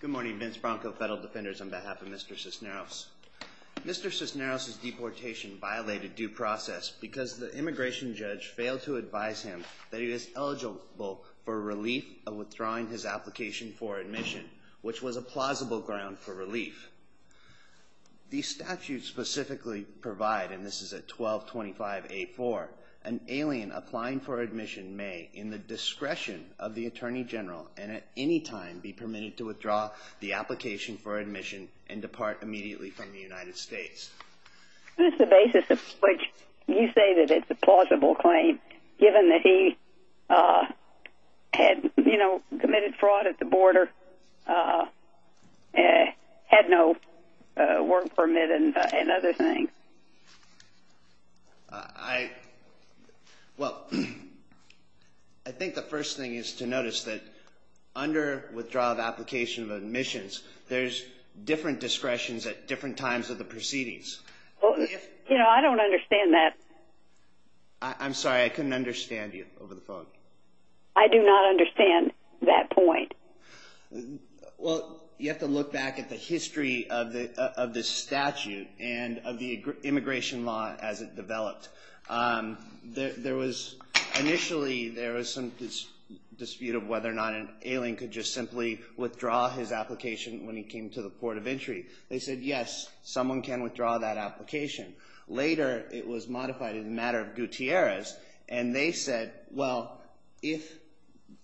Good morning, Vince Bronco, Federal Defenders, on behalf of Mr. Cisneros. Mr. Cisneros' deportation violated due process because the immigration judge failed to advise him that he was eligible for relief of withdrawing his application for admission, which was a plausible ground for relief. The statute specifically provides, and this is at 1225A4, an alien applying for admission may, in the discretion of the Attorney General, and at any time be permitted to withdraw the application for admission and depart immediately from the United States. What is the basis of which you say that it's a plausible claim, given that he had committed fraud at the border, had no work permit and other things? Well, I think the first thing is to notice that under withdrawal of application of admissions, there's different discretions at different times of the proceedings. You know, I don't understand that. I'm sorry, I couldn't understand you over the phone. I do not understand that point. Well, you have to look back at the history of this statute and of the immigration law as it developed. Initially, there was some dispute of whether or not an alien could just simply withdraw his application when he came to the port of entry. They said, yes, someone can withdraw that application. Later, it was modified in the matter of Gutierrez, and they said, well, if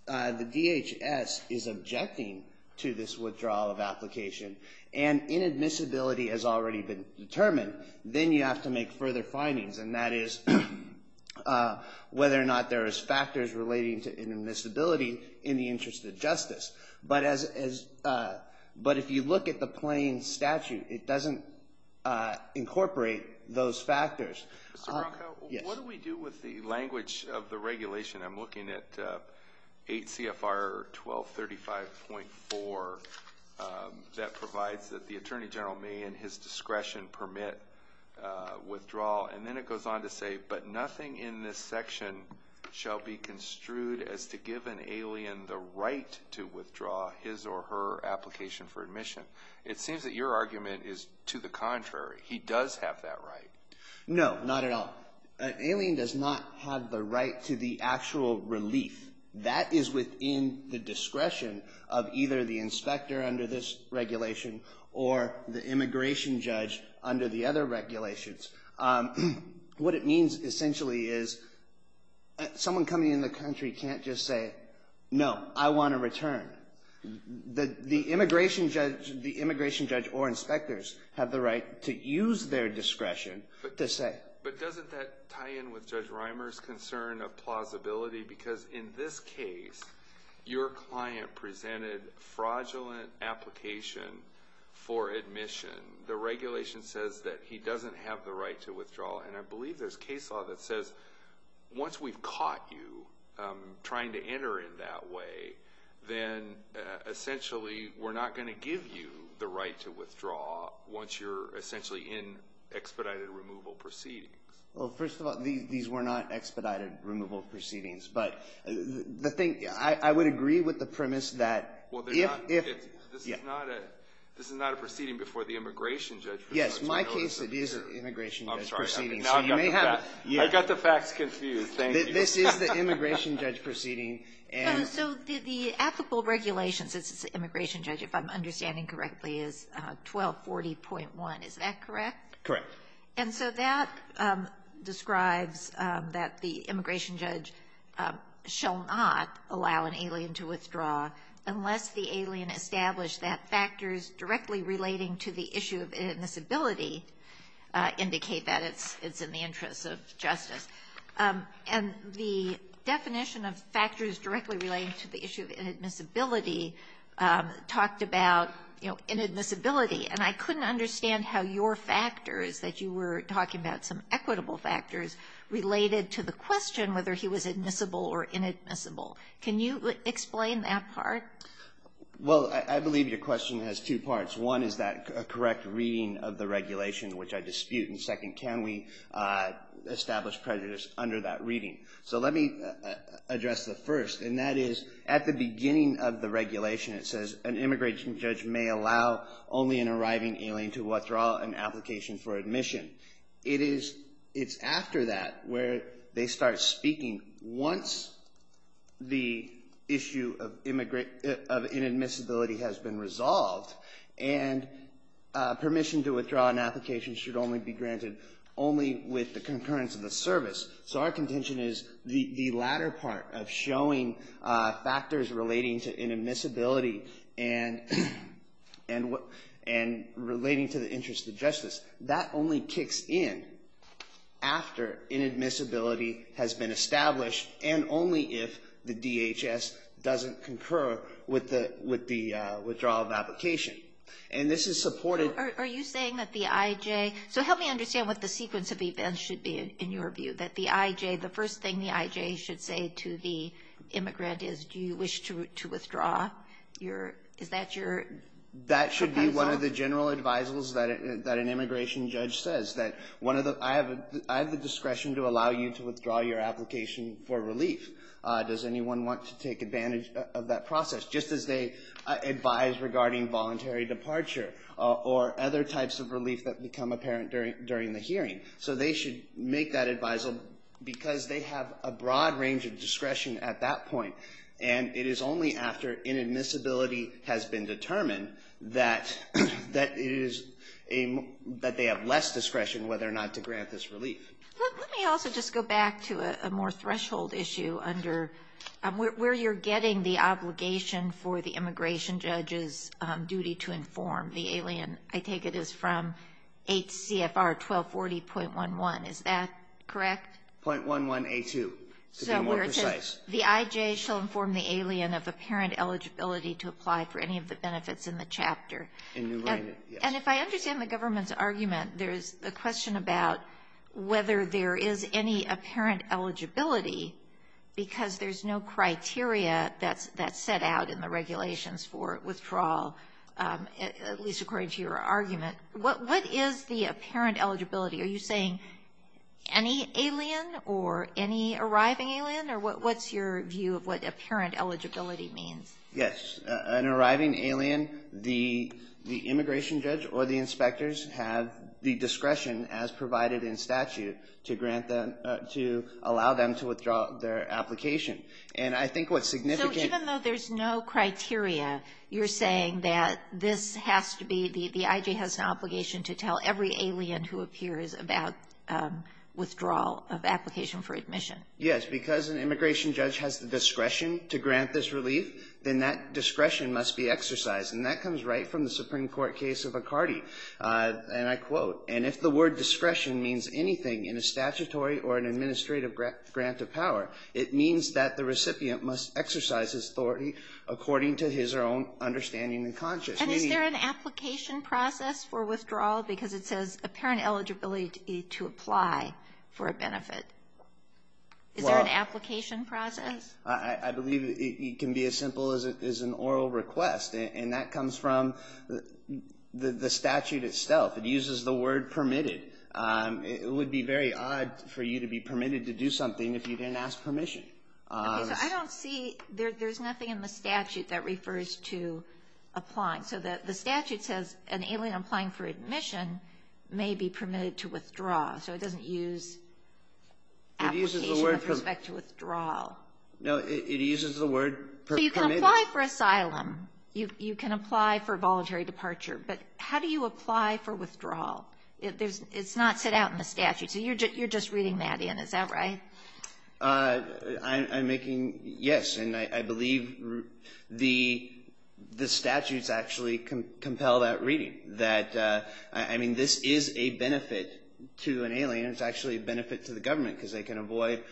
the DHS is objecting to this withdrawal of application and inadmissibility has already been determined, then you have to make further findings, and that is whether or not there is factors relating to inadmissibility in the interest of justice. But if you look at the plain statute, it doesn't incorporate those factors. Mr. Bronco, what do we do with the language of the regulation? I'm looking at 8 CFR 1235.4. That provides that the attorney general may, in his discretion, permit withdrawal. And then it goes on to say, but nothing in this section shall be construed as to give an alien the right to withdraw his or her application for admission. It seems that your argument is to the contrary. He does have that right. No, not at all. An alien does not have the right to the actual relief. That is within the discretion of either the inspector under this regulation or the immigration judge under the other regulations. What it means, essentially, is someone coming in the country can't just say, no, I want a return. The immigration judge or inspectors have the right to use their discretion to say. But doesn't that tie in with Judge Reimer's concern of plausibility? Because in this case, your client presented fraudulent application for admission. The regulation says that he doesn't have the right to withdraw. And I believe there's case law that says once we've caught you trying to enter in that way, then essentially we're not going to give you the right to withdraw once you're essentially in expedited removal proceedings. Well, first of all, these were not expedited removal proceedings. But the thing, I would agree with the premise that if. This is not a proceeding before the immigration judge. I got the facts confused. This is the immigration judge proceeding. So the applicable regulations, this immigration judge, if I'm understanding correctly, is 1240.1. Is that correct? Correct. And so that describes that the immigration judge shall not allow an alien to withdraw unless the alien established that factors directly relating to the issue of inadmissibility indicate that it's in the interest of justice. And the definition of factors directly relating to the issue of inadmissibility talked about, you know, inadmissibility. And I couldn't understand how your factors that you were talking about, some equitable factors, related to the question whether he was admissible or inadmissible. Can you explain that part? Well, I believe your question has two parts. One is that a correct reading of the regulation, which I dispute. And second, can we establish prejudice under that reading? So let me address the first, and that is at the beginning of the regulation, it says an immigration judge may allow only an arriving alien to withdraw an application for admission. It's after that where they start speaking once the issue of inadmissibility has been resolved and permission to withdraw an application should only be granted only with the concurrence of the service. So our contention is the latter part of showing factors relating to inadmissibility and relating to the interest of justice. That only kicks in after inadmissibility has been established and only if the DHS doesn't concur with the withdrawal of application. And this is supported. Are you saying that the IJ, so help me understand what the sequence of events should be in your view, that the IJ, the first thing the IJ should say to the immigrant is, do you wish to withdraw? Is that your comparison? That should be one of the general advisals that an immigration judge says, that I have the discretion to allow you to withdraw your application for relief. Does anyone want to take advantage of that process? Just as they advise regarding voluntary departure or other types of relief that become apparent during the hearing. So they should make that advisal because they have a broad range of discretion at that point, and it is only after inadmissibility has been determined that they have less discretion whether or not to grant this relief. Let me also just go back to a more threshold issue under where you're getting the obligation for the immigration judge's duty to inform. The alien, I take it, is from HCFR 1240.11. Is that correct? The IJ shall inform the alien of apparent eligibility to apply for any of the benefits in the chapter. And if I understand the government's argument, there's a question about whether there is any apparent eligibility because there's no criteria that's set out in the regulations for withdrawal, at least according to your argument. What is the apparent eligibility? Are you saying any alien or any arriving alien, or what's your view of what apparent eligibility means? Yes. An arriving alien, the immigration judge or the inspectors have the discretion, as provided in statute, to allow them to withdraw their application. And I think what's significant – So even though there's no criteria, you're saying that this has to be – withdrawal of application for admission. Yes. Because an immigration judge has the discretion to grant this relief, then that discretion must be exercised. And that comes right from the Supreme Court case of Icardi, and I quote, and if the word discretion means anything in a statutory or an administrative grant of power, it means that the recipient must exercise his authority according to his or her own understanding and conscience. And is there an application process for withdrawal? Because it says apparent eligibility to apply for a benefit. Is there an application process? I believe it can be as simple as an oral request, and that comes from the statute itself. It uses the word permitted. It would be very odd for you to be permitted to do something if you didn't ask permission. I don't see – there's nothing in the statute that refers to applying. So the statute says an alien applying for admission may be permitted to withdraw, so it doesn't use application with respect to withdrawal. No, it uses the word permitted. So you can apply for asylum. You can apply for voluntary departure. But how do you apply for withdrawal? It's not set out in the statute. So you're just reading that in, is that right? I'm making – yes, and I believe the statutes actually compel that reading. I mean, this is a benefit to an alien. It's actually a benefit to the government because they can avoid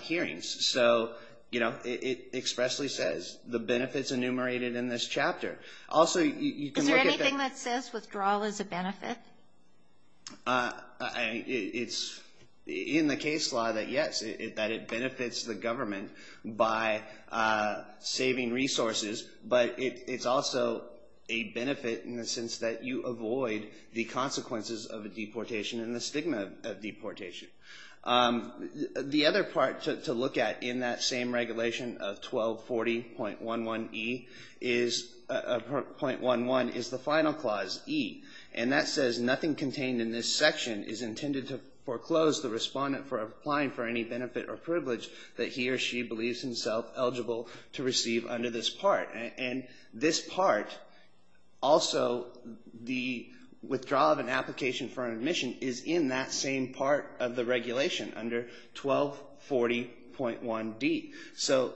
hearings. So, you know, it expressly says the benefits enumerated in this chapter. Also, you can look at the – Is there anything that says withdrawal is a benefit? It's in the case law that, yes, that it benefits the government by saving resources, but it's also a benefit in the sense that you avoid the consequences of a deportation and the stigma of deportation. The other part to look at in that same regulation of 1240.11e is – Nothing contained in this section is intended to foreclose the respondent for applying for any benefit or privilege that he or she believes himself eligible to receive under this part. And this part, also the withdrawal of an application for an admission, is in that same part of the regulation under 1240.1d. So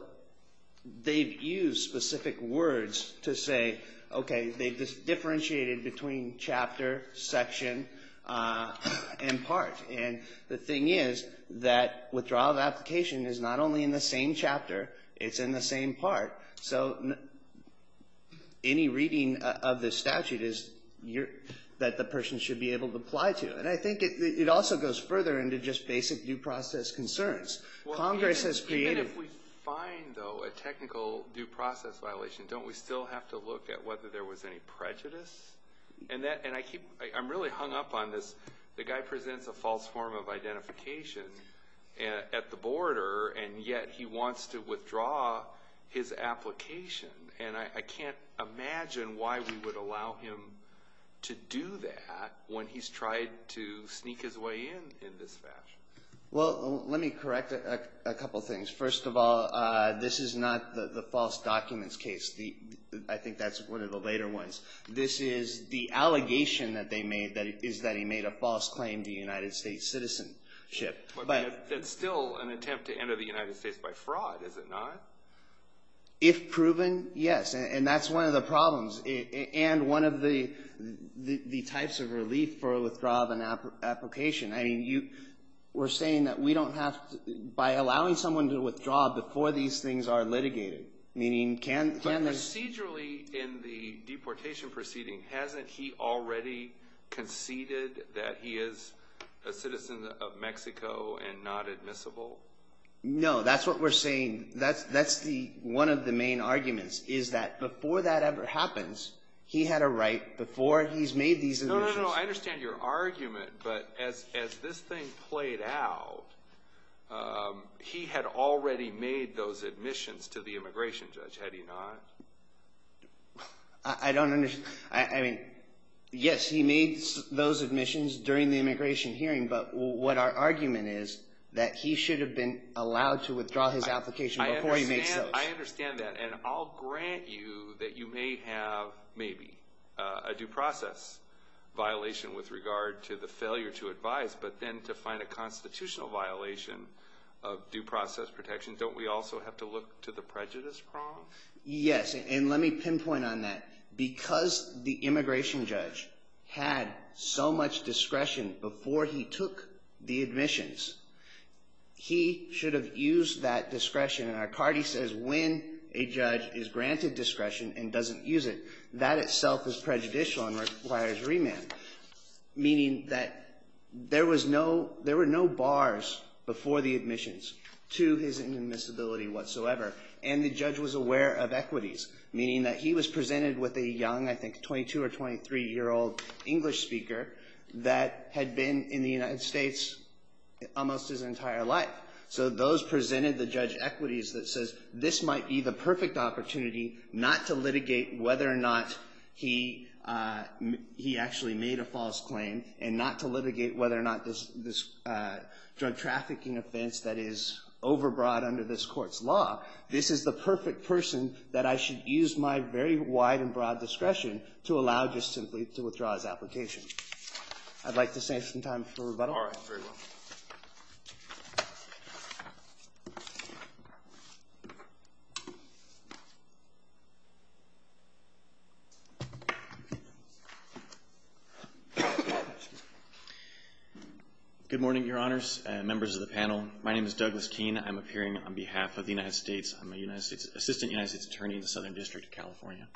they've used specific words to say, okay, they've differentiated between chapter, section, and part. And the thing is that withdrawal of application is not only in the same chapter. It's in the same part. So any reading of this statute is that the person should be able to apply to. And I think it also goes further into just basic due process concerns. Even if we find, though, a technical due process violation, don't we still have to look at whether there was any prejudice? And I'm really hung up on this. The guy presents a false form of identification at the border, and yet he wants to withdraw his application. And I can't imagine why we would allow him to do that when he's tried to sneak his way in in this fashion. Well, let me correct a couple things. First of all, this is not the false documents case. I think that's one of the later ones. This is the allegation that they made is that he made a false claim to United States citizenship. But that's still an attempt to enter the United States by fraud, is it not? If proven, yes. And that's one of the problems and one of the types of relief for withdrawal of an application. I mean, you were saying that we don't have to – by allowing someone to withdraw before these things are litigated. Meaning can they – But procedurally in the deportation proceeding, hasn't he already conceded that he is a citizen of Mexico and not admissible? No, that's what we're saying. That's the – one of the main arguments is that before that ever happens, he had a right before he's made these – No, no, no. I understand your argument, but as this thing played out, he had already made those admissions to the immigration judge, had he not? I don't – I mean, yes, he made those admissions during the immigration hearing, but what our argument is that he should have been allowed to withdraw his application before he makes those. I understand that, and I'll grant you that you may have maybe a due process violation with regard to the failure to advise, but then to find a constitutional violation of due process protection, don't we also have to look to the prejudice problem? Yes, and let me pinpoint on that. Because the immigration judge had so much discretion before he took the admissions, he should have used that discretion. And our card, he says, when a judge is granted discretion and doesn't use it, that itself is prejudicial and requires remand, meaning that there was no – there were no bars before the admissions to his inadmissibility whatsoever, and the judge was aware of equities, meaning that he was presented with a young, I think 22- or 23-year-old English speaker that had been in the United States almost his entire life. So those presented the judge equities that says, this might be the perfect opportunity not to litigate whether or not he actually made a false claim and not to litigate whether or not this drug trafficking offense that is overbroad under this Court's law, this is the perfect person that I should use my very wide and broad discretion to allow just simply to withdraw his application. All right, very well. Good morning, Your Honors and members of the panel. My name is Douglas Keene. I'm appearing on behalf of the United States. I'm an assistant United States attorney in the Southern District of California.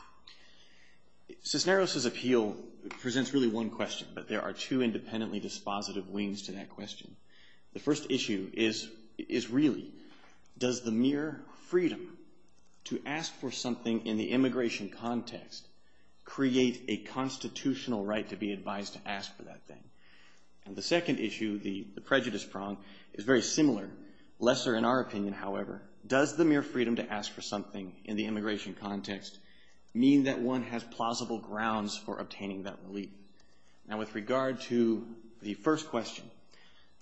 Cisneros' appeal presents really one question, but there are two independently dispositive wings to that question. The first issue is really, does the mere freedom to ask for something in the immigration context create a constitutional right to be advised to ask for that thing? And the second issue, the prejudice prong, is very similar, lesser in our opinion, however. Does the mere freedom to ask for something in the immigration context mean that one has plausible grounds for obtaining that relief? Now, with regard to the first question,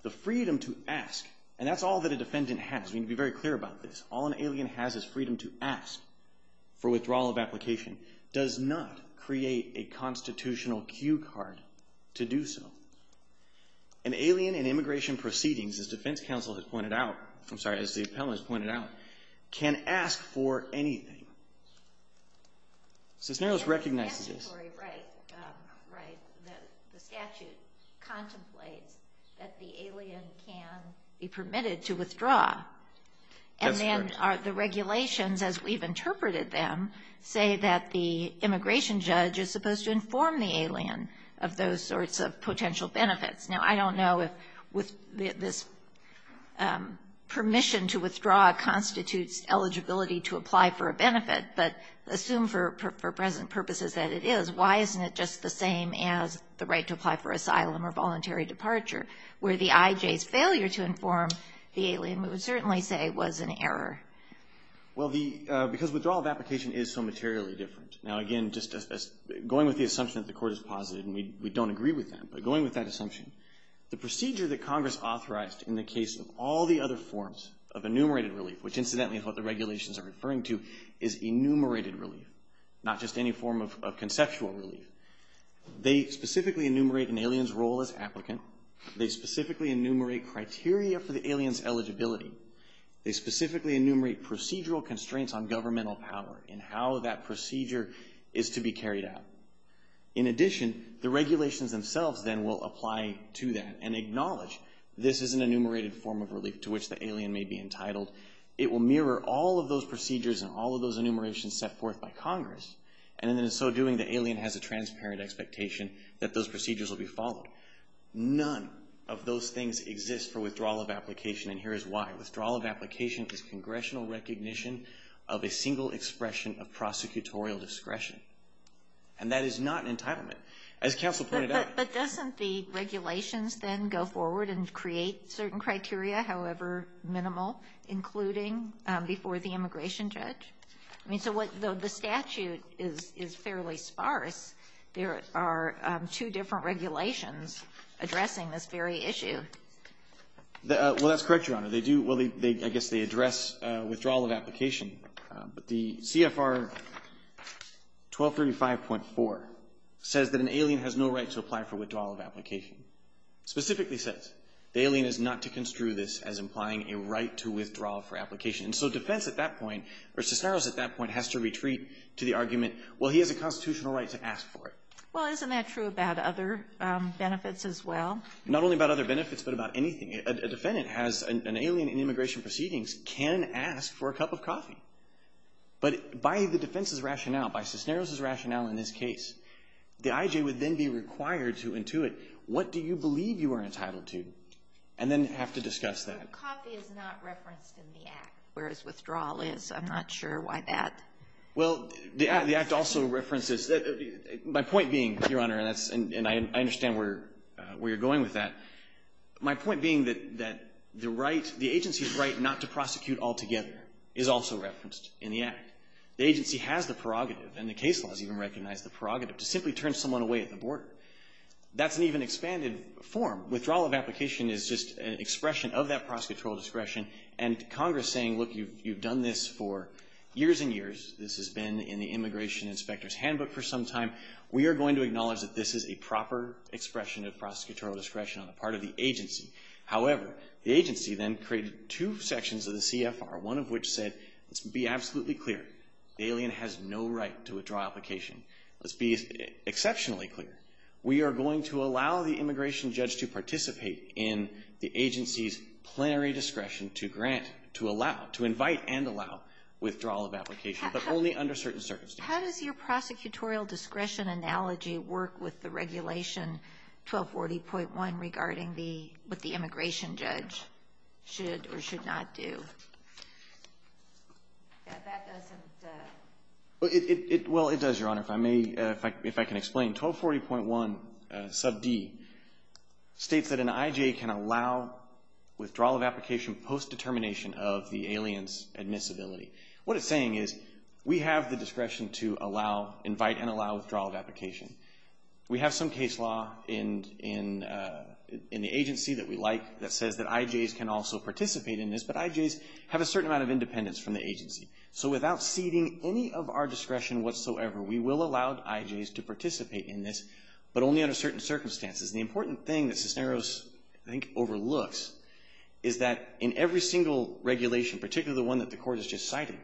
the freedom to ask, and that's all that a defendant has. We need to be very clear about this. All an alien has is freedom to ask for withdrawal of application, does not create a constitutional cue card to do so. An alien in immigration proceedings, as defense counsel has pointed out, I'm sorry, as the appellant has pointed out, can ask for anything. Cisneros recognizes this. Right, the statute contemplates that the alien can be permitted to withdraw. And then the regulations, as we've interpreted them, say that the immigration judge is supposed to inform the alien of those sorts of potential benefits. Now, I don't know if this permission to withdraw constitutes eligibility to apply for a benefit, but assume for present purposes that it is. Why isn't it just the same as the right to apply for asylum or voluntary departure, where the IJ's failure to inform the alien we would certainly say was an error? Well, because withdrawal of application is so materially different. Now, again, just going with the assumption that the court has posited, and we don't agree with that, but going with that assumption, the procedure that Congress authorized in the case of all the other forms of enumerated relief, which incidentally is what the regulations are referring to, is enumerated relief, not just any form of conceptual relief. They specifically enumerate an alien's role as applicant. They specifically enumerate criteria for the alien's eligibility. They specifically enumerate procedural constraints on governmental power and how that procedure is to be carried out. In addition, the regulations themselves then will apply to that and acknowledge this is an enumerated form of relief to which the alien may be entitled. It will mirror all of those procedures and all of those enumerations set forth by Congress, and in so doing, the alien has a transparent expectation that those procedures will be followed. None of those things exist for withdrawal of application, and here is why. Withdrawal of application is congressional recognition of a single expression of prosecutorial discretion, and that is not an entitlement. As counsel pointed out. But doesn't the regulations then go forward and create certain criteria, however minimal, including before the immigration judge? I mean, so the statute is fairly sparse. There are two different regulations addressing this very issue. Well, that's correct, Your Honor. I guess they address withdrawal of application, but the CFR 1235.4 says that an alien has no right to apply for withdrawal of application. Specifically says the alien is not to construe this as implying a right to withdraw for application. So defense at that point, or Cisneros at that point, has to retreat to the argument, well, he has a constitutional right to ask for it. Well, isn't that true about other benefits as well? Not only about other benefits, but about anything. A defendant has an alien in immigration proceedings can ask for a cup of coffee. But by the defense's rationale, by Cisneros' rationale in this case, the IJ would then be required to intuit, what do you believe you are entitled to, and then have to discuss that. But coffee is not referenced in the Act, whereas withdrawal is. I'm not sure why that is. Well, the Act also references that. My point being, Your Honor, and I understand where you're going with that, my point being that the agency's right not to prosecute altogether is also referenced in the Act. The agency has the prerogative, and the case laws even recognize the prerogative, to simply turn someone away at the border. That's an even expanded form. Withdrawal of application is just an expression of that prosecutorial discretion, and Congress saying, look, you've done this for years and years. This has been in the immigration inspector's handbook for some time. We are going to acknowledge that this is a proper expression of prosecutorial discretion on the part of the agency. However, the agency then created two sections of the CFR, one of which said, let's be absolutely clear. The alien has no right to withdraw application. Let's be exceptionally clear. We are going to allow the immigration judge to participate in the agency's plenary discretion to grant, to allow, to invite and allow withdrawal of application, but only under certain circumstances. How does your prosecutorial discretion analogy work with the Regulation 1240.1 regarding the what the immigration judge should or should not do? Well, it does, Your Honor. If I may, if I can explain, 1240.1 sub D states that an IJ can allow withdrawal of application post-determination of the alien's admissibility. What it's saying is we have the discretion to allow, invite and allow withdrawal of application. We have some case law in the agency that we like that says that IJs can also participate in this, but IJs have a certain amount of independence from the agency. So without ceding any of our discretion whatsoever, we will allow IJs to participate in this, but only under certain circumstances. The important thing that Cisneros, I think, overlooks is that in every single regulation, particularly the one that the Court has just cited,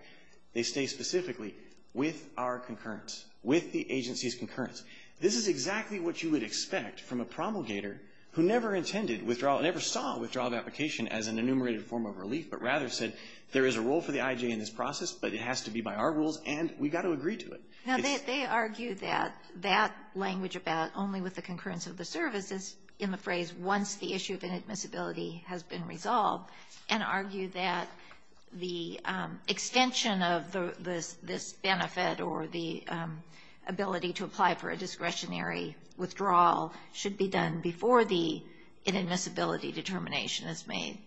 they stay specifically with our concurrence, with the agency's concurrence. This is exactly what you would expect from a promulgator who never intended withdrawal, but rather said there is a role for the IJ in this process, but it has to be by our rules, and we've got to agree to it. Now, they argue that that language about only with the concurrence of the service is in the phrase once the issue of inadmissibility has been resolved, and argue that the extension of this benefit or the ability to apply for a discretionary withdrawal should be done before the inadmissibility determination is made.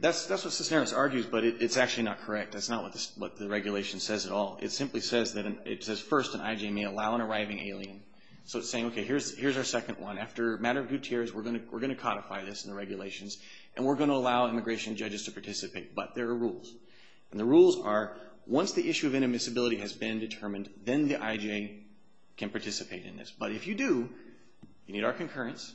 That's what Cisneros argues, but it's actually not correct. That's not what the regulation says at all. It simply says first an IJ may allow an arriving alien. So it's saying, okay, here's our second one. After a matter of due tiers, we're going to codify this in the regulations, and we're going to allow immigration judges to participate, but there are rules. And the rules are once the issue of inadmissibility has been determined, then the IJ can participate in this. But if you do, you need our concurrence,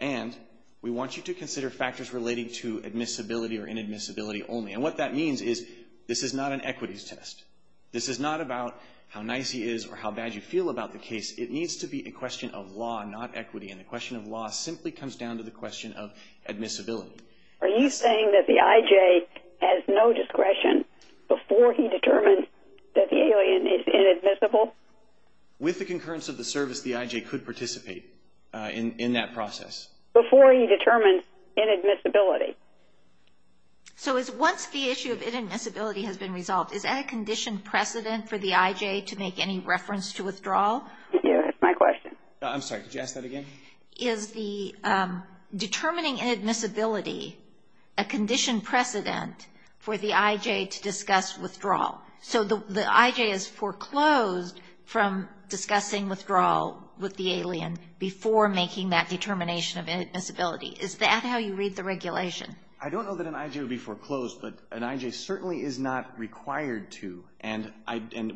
and we want you to consider factors relating to admissibility or inadmissibility only. And what that means is this is not an equities test. This is not about how nice he is or how bad you feel about the case. It needs to be a question of law, not equity, and the question of law simply comes down to the question of admissibility. Are you saying that the IJ has no discretion before he determines that the alien is inadmissible? With the concurrence of the service, the IJ could participate in that process. Before he determines inadmissibility. So once the issue of inadmissibility has been resolved, is that a condition precedent for the IJ to make any reference to withdrawal? Yes, that's my question. I'm sorry, could you ask that again? Is determining inadmissibility a condition precedent for the IJ to discuss withdrawal? So the IJ is foreclosed from discussing withdrawal with the alien before making that determination of inadmissibility. Is that how you read the regulation? I don't know that an IJ would be foreclosed, but an IJ certainly is not required to, and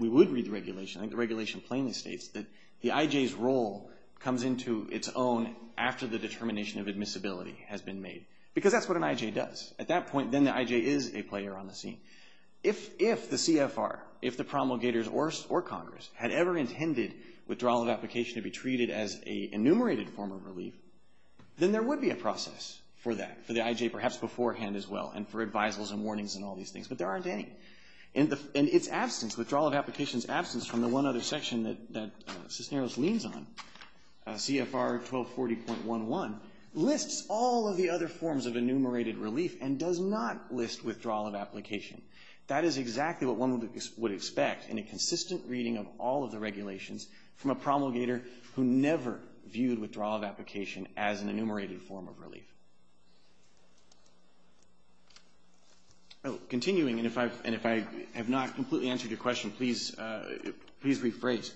we would read the regulation. I think the regulation plainly states that the IJ's role comes into its own after the determination of admissibility has been made, because that's what an IJ does. At that point, then the IJ is a player on the scene. If the CFR, if the promulgators or Congress, had ever intended withdrawal of application to be treated as an enumerated form of relief, then there would be a process for that, for the IJ perhaps beforehand as well, and for advisals and warnings and all these things, but there aren't any. And its absence, withdrawal of application's absence, from the one other section that Cisneros leans on, CFR 1240.11, lists all of the other forms of enumerated relief and does not list withdrawal of application. That is exactly what one would expect in a consistent reading of all of the regulations from a promulgator who never viewed withdrawal of application as an enumerated form of relief. Continuing, and if I have not completely answered your question, please rephrase.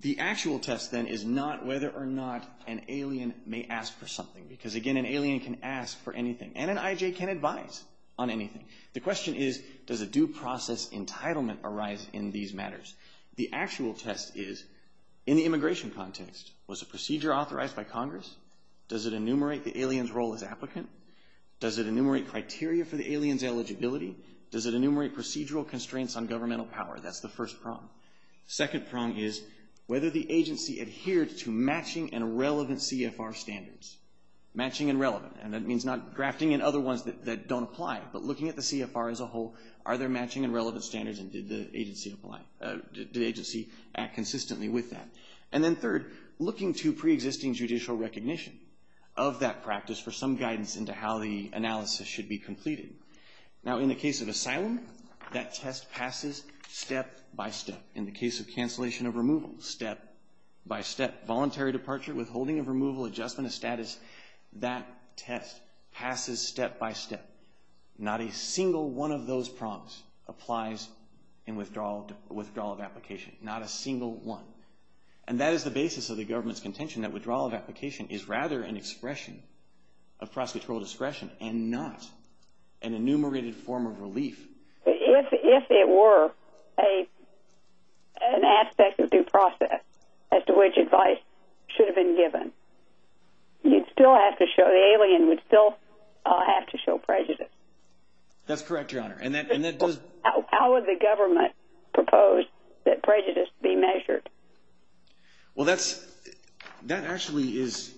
The actual test, then, is not whether or not an alien may ask for something, because again, an alien can ask for anything, and an IJ can advise on anything. The question is, does a due process entitlement arise in these matters? The actual test is, in the immigration context, was a procedure authorized by Congress? Does it enumerate the alien's role as applicant? Does it enumerate criteria for the alien's eligibility? Does it enumerate procedural constraints on governmental power? That's the first prong. Second prong is whether the agency adhered to matching and relevant CFR standards. Matching and relevant, and that means not drafting in other ones that don't apply, but looking at the CFR as a whole, are there matching and relevant standards, and did the agency act consistently with that? And then third, looking to preexisting judicial recognition of that practice for some guidance into how the analysis should be completed. Now, in the case of asylum, that test passes step-by-step. In the case of cancellation of removal, step-by-step. Voluntary departure, withholding of removal, adjustment of status, that test passes step-by-step. Not a single one of those prongs applies in withdrawal of application. Not a single one. And that is the basis of the government's contention that withdrawal of application is rather an expression of prosecutorial discretion and not an enumerated form of relief. If it were an aspect of due process as to which advice should have been given, the alien would still have to show prejudice. That's correct, Your Honor. How would the government propose that prejudice be measured? Well, that actually is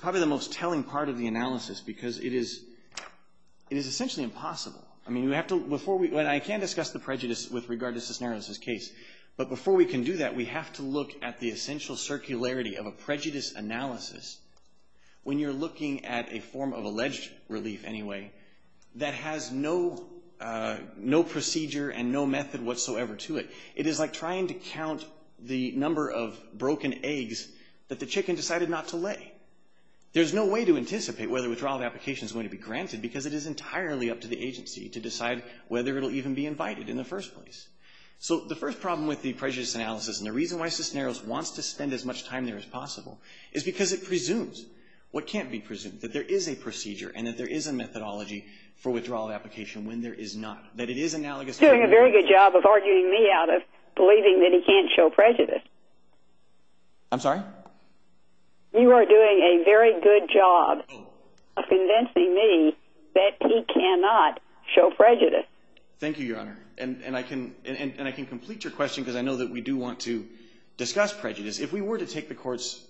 probably the most telling part of the analysis because it is essentially impossible. I mean, I can discuss the prejudice with regard to Cisneros' case, but before we can do that, we have to look at the essential circularity of a prejudice analysis when you're looking at a form of alleged relief, anyway, that has no procedure and no method whatsoever to it. It is like trying to count the number of broken eggs that the chicken decided not to lay. There's no way to anticipate whether withdrawal of application is going to be granted because it is entirely up to the agency to decide whether it will even be invited in the first place. So the first problem with the prejudice analysis, and the reason why Cisneros wants to spend as much time there as possible, is because it presumes what can't be presumed, that there is a procedure and that there is a methodology for withdrawal of application when there is not. You're doing a very good job of arguing me out of believing that he can't show prejudice. I'm sorry? You are doing a very good job of convincing me that he cannot show prejudice. Thank you, Your Honor. And I can complete your question because I know that we do want to discuss prejudice. If we were to take the Court's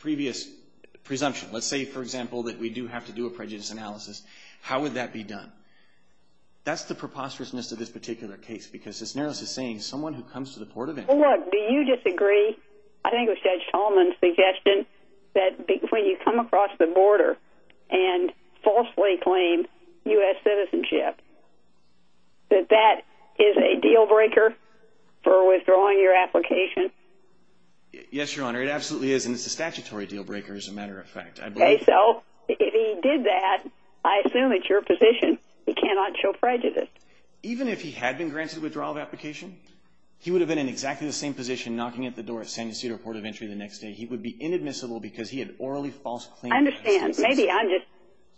previous presumption, let's say, for example, that we do have to do a prejudice analysis, how would that be done? That's the preposterousness of this particular case because Cisneros is saying someone who comes to the Port of Entry... Look, do you disagree, I think with Judge Tolman's suggestion, that when you come across the border and falsely claim U.S. citizenship, that that is a deal-breaker for withdrawing your application? Yes, Your Honor, it absolutely is, and it's a statutory deal-breaker as a matter of fact. Okay, so if he did that, I assume it's your position he cannot show prejudice? Even if he had been granted a withdrawal of application, he would have been in exactly the same position knocking at the door at San Ysidro Port of Entry the next day. He would be inadmissible because he had orally false claimed U.S. citizenship. I understand. Maybe I'm just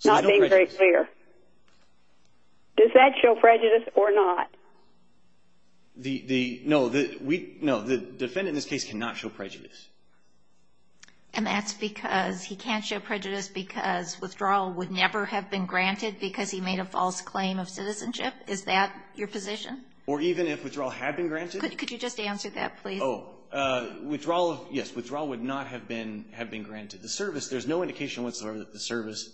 not being very clear. Does that show prejudice or not? No, the defendant in this case cannot show prejudice. And that's because he can't show prejudice because withdrawal would never have been granted because he made a false claim of citizenship? Is that your position? Or even if withdrawal had been granted? Could you just answer that, please? Oh, withdrawal, yes, withdrawal would not have been granted. The service, there's no indication whatsoever that the service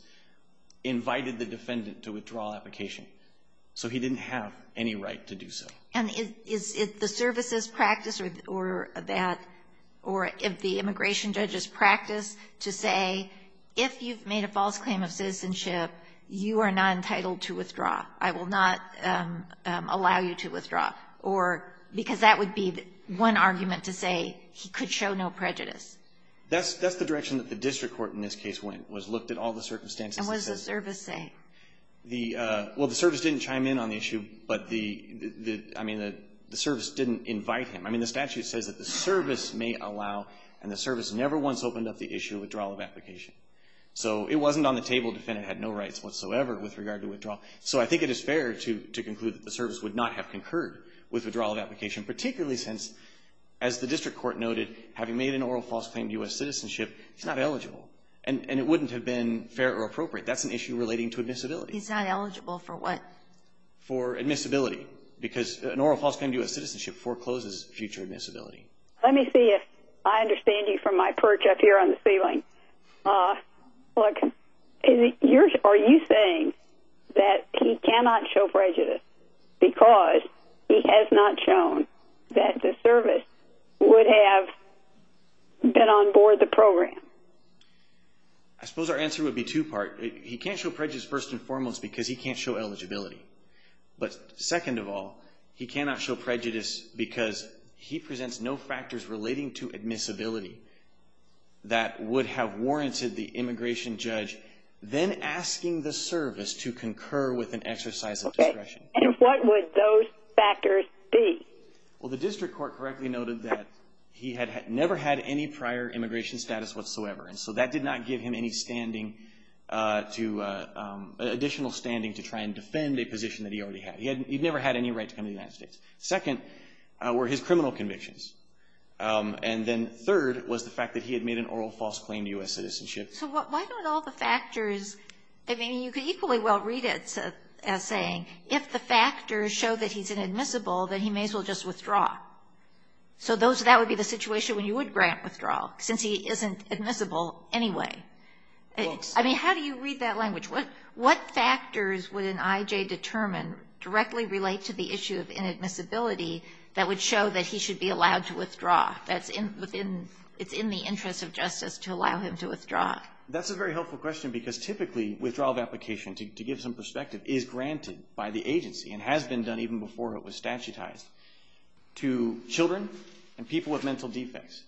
invited the defendant to withdraw application. So he didn't have any right to do so. And is it the service's practice or that, or if the immigration judge's practice to say, if you've made a false claim of citizenship, you are not entitled to withdraw. I will not allow you to withdraw. Or, because that would be one argument to say he could show no prejudice. That's the direction that the district court in this case went, was looked at all the circumstances. And what does the service say? Well, the service didn't chime in on the issue, but the, I mean, the service didn't invite him. I mean, the statute says that the service may allow, and the service never once opened up the issue of withdrawal of application. So it wasn't on the table. The defendant had no rights whatsoever with regard to withdrawal. So I think it is fair to conclude that the service would not have concurred with withdrawal of application, particularly since, as the district court noted, having made an oral false claim of U.S. citizenship, he's not eligible. And it wouldn't have been fair or appropriate. That's an issue relating to admissibility. He's not eligible for what? For admissibility. Because an oral false claim of U.S. citizenship forecloses future admissibility. Let me see if I understand you from my perch up here on the ceiling. Look, are you saying that he cannot show prejudice because he has not shown that the service would have been on board the program? I suppose our answer would be two-part. He can't show prejudice first and foremost because he can't show eligibility. But second of all, he cannot show prejudice because he presents no factors relating to admissibility that would have warranted the immigration judge then asking the service to concur with an exercise of discretion. And what would those factors be? Well, the district court correctly noted that he had never had any prior immigration status whatsoever. And so that did not give him any additional standing to try and defend a position that he already had. He never had any right to come to the United States. Second were his criminal convictions. And then third was the fact that he had made an oral false claim to U.S. citizenship. So why don't all the factors – I mean, you could equally well read it as saying, if the factors show that he's inadmissible, then he may as well just withdraw. So that would be the situation when you would grant withdrawal, since he isn't admissible anyway. I mean, how do you read that language? What factors would an IJ determine directly relate to the issue of inadmissibility that would show that he should be allowed to withdraw, that it's in the interest of justice to allow him to withdraw? That's a very helpful question because typically withdrawal of application, to give some perspective, is granted by the agency and has been done even before it was statutized, to children and people with mental defects,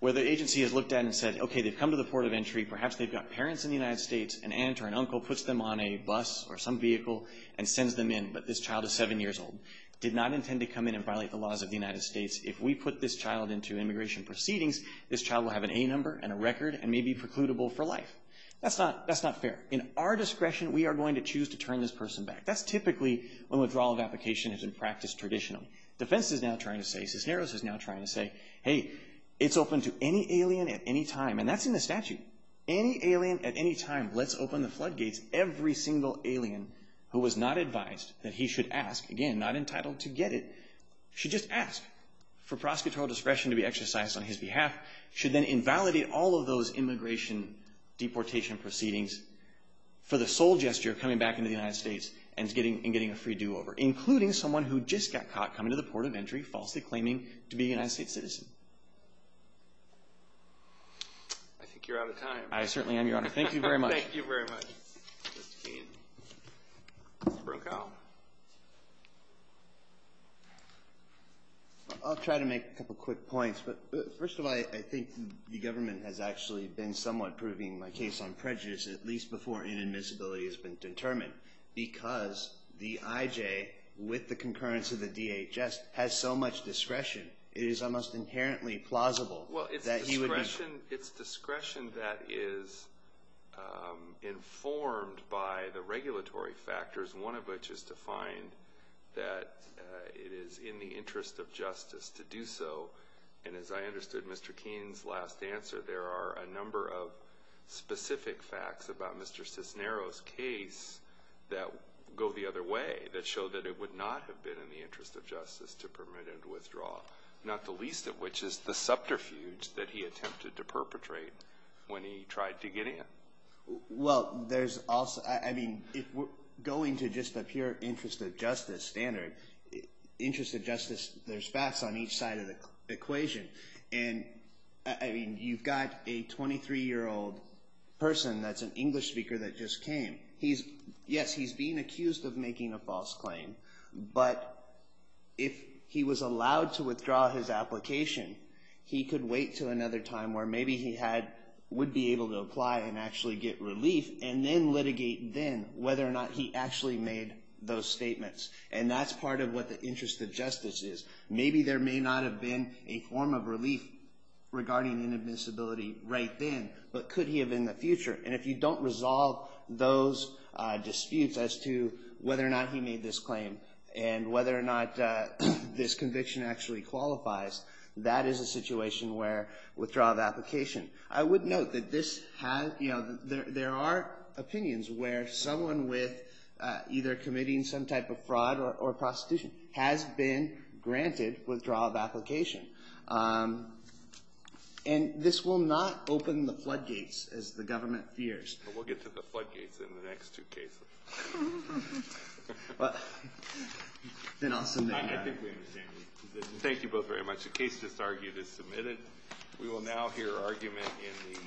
where the agency has looked at it and said, okay, they've come to the port of entry, perhaps they've got parents in the United States, an aunt or an uncle puts them on a bus or some vehicle and sends them in, but this child is seven years old. Did not intend to come in and violate the laws of the United States. If we put this child into immigration proceedings, this child will have an A number and a record and may be precludable for life. That's not fair. In our discretion, we are going to choose to turn this person back. That's typically when withdrawal of application has been practiced traditionally. Defense is now trying to say, Cisneros is now trying to say, hey, it's open to any alien at any time, and that's in the statute. Any alien at any time lets open the floodgates. Every single alien who was not advised that he should ask, again, not entitled to get it, should just ask for prosecutorial discretion to be exercised on his behalf, should then invalidate all of those immigration deportation proceedings for the sole gesture of coming back into the United States and getting a free do-over, including someone who just got caught coming to the port of entry falsely claiming to be a United States citizen. I think you're out of time. I certainly am, Your Honor. Thank you very much. Thank you very much, Mr. Keene. Mr. Brokaw. I'll try to make a couple quick points, but first of all, I think the government has actually been somewhat proving my case on prejudice at least before inadmissibility has been determined, because the IJ, with the concurrence of the DHS, has so much discretion, it is almost inherently plausible that he would be... Well, it's discretion that is informed by the regulatory factors, one of which is to find that it is in the interest of justice to do so, and as I understood Mr. Keene's last answer, there are a number of specific facts about Mr. Cisneros' case that go the other way that show that it would not have been in the interest of justice to permit him to withdraw, not the least of which is the subterfuge that he attempted to perpetrate when he tried to get in. Well, there's also, I mean, going to just a pure interest of justice standard, interest of justice, there's facts on each side of the equation, and, I mean, you've got a 23-year-old person that's an English speaker that just came. Yes, he's being accused of making a false claim, but if he was allowed to withdraw his application, he could wait to another time where maybe he would be able to apply and actually get relief, and then litigate then whether or not he actually made those statements, and that's part of what the interest of justice is. Maybe there may not have been a form of relief regarding inadmissibility right then, but could he have in the future, and if you don't resolve those disputes as to whether or not he made this claim and whether or not this conviction actually qualifies, that is a situation where withdrawal of application. I would note that this has, you know, there are opinions where someone with either committing some type of fraud or prostitution has been granted withdrawal of application, and this will not open the floodgates as the government fears. But we'll get to the floodgates in the next two cases. Well, then I'll submit. I think we understand the position. Thank you both very much. The case just argued is submitted. We will now hear argument in the...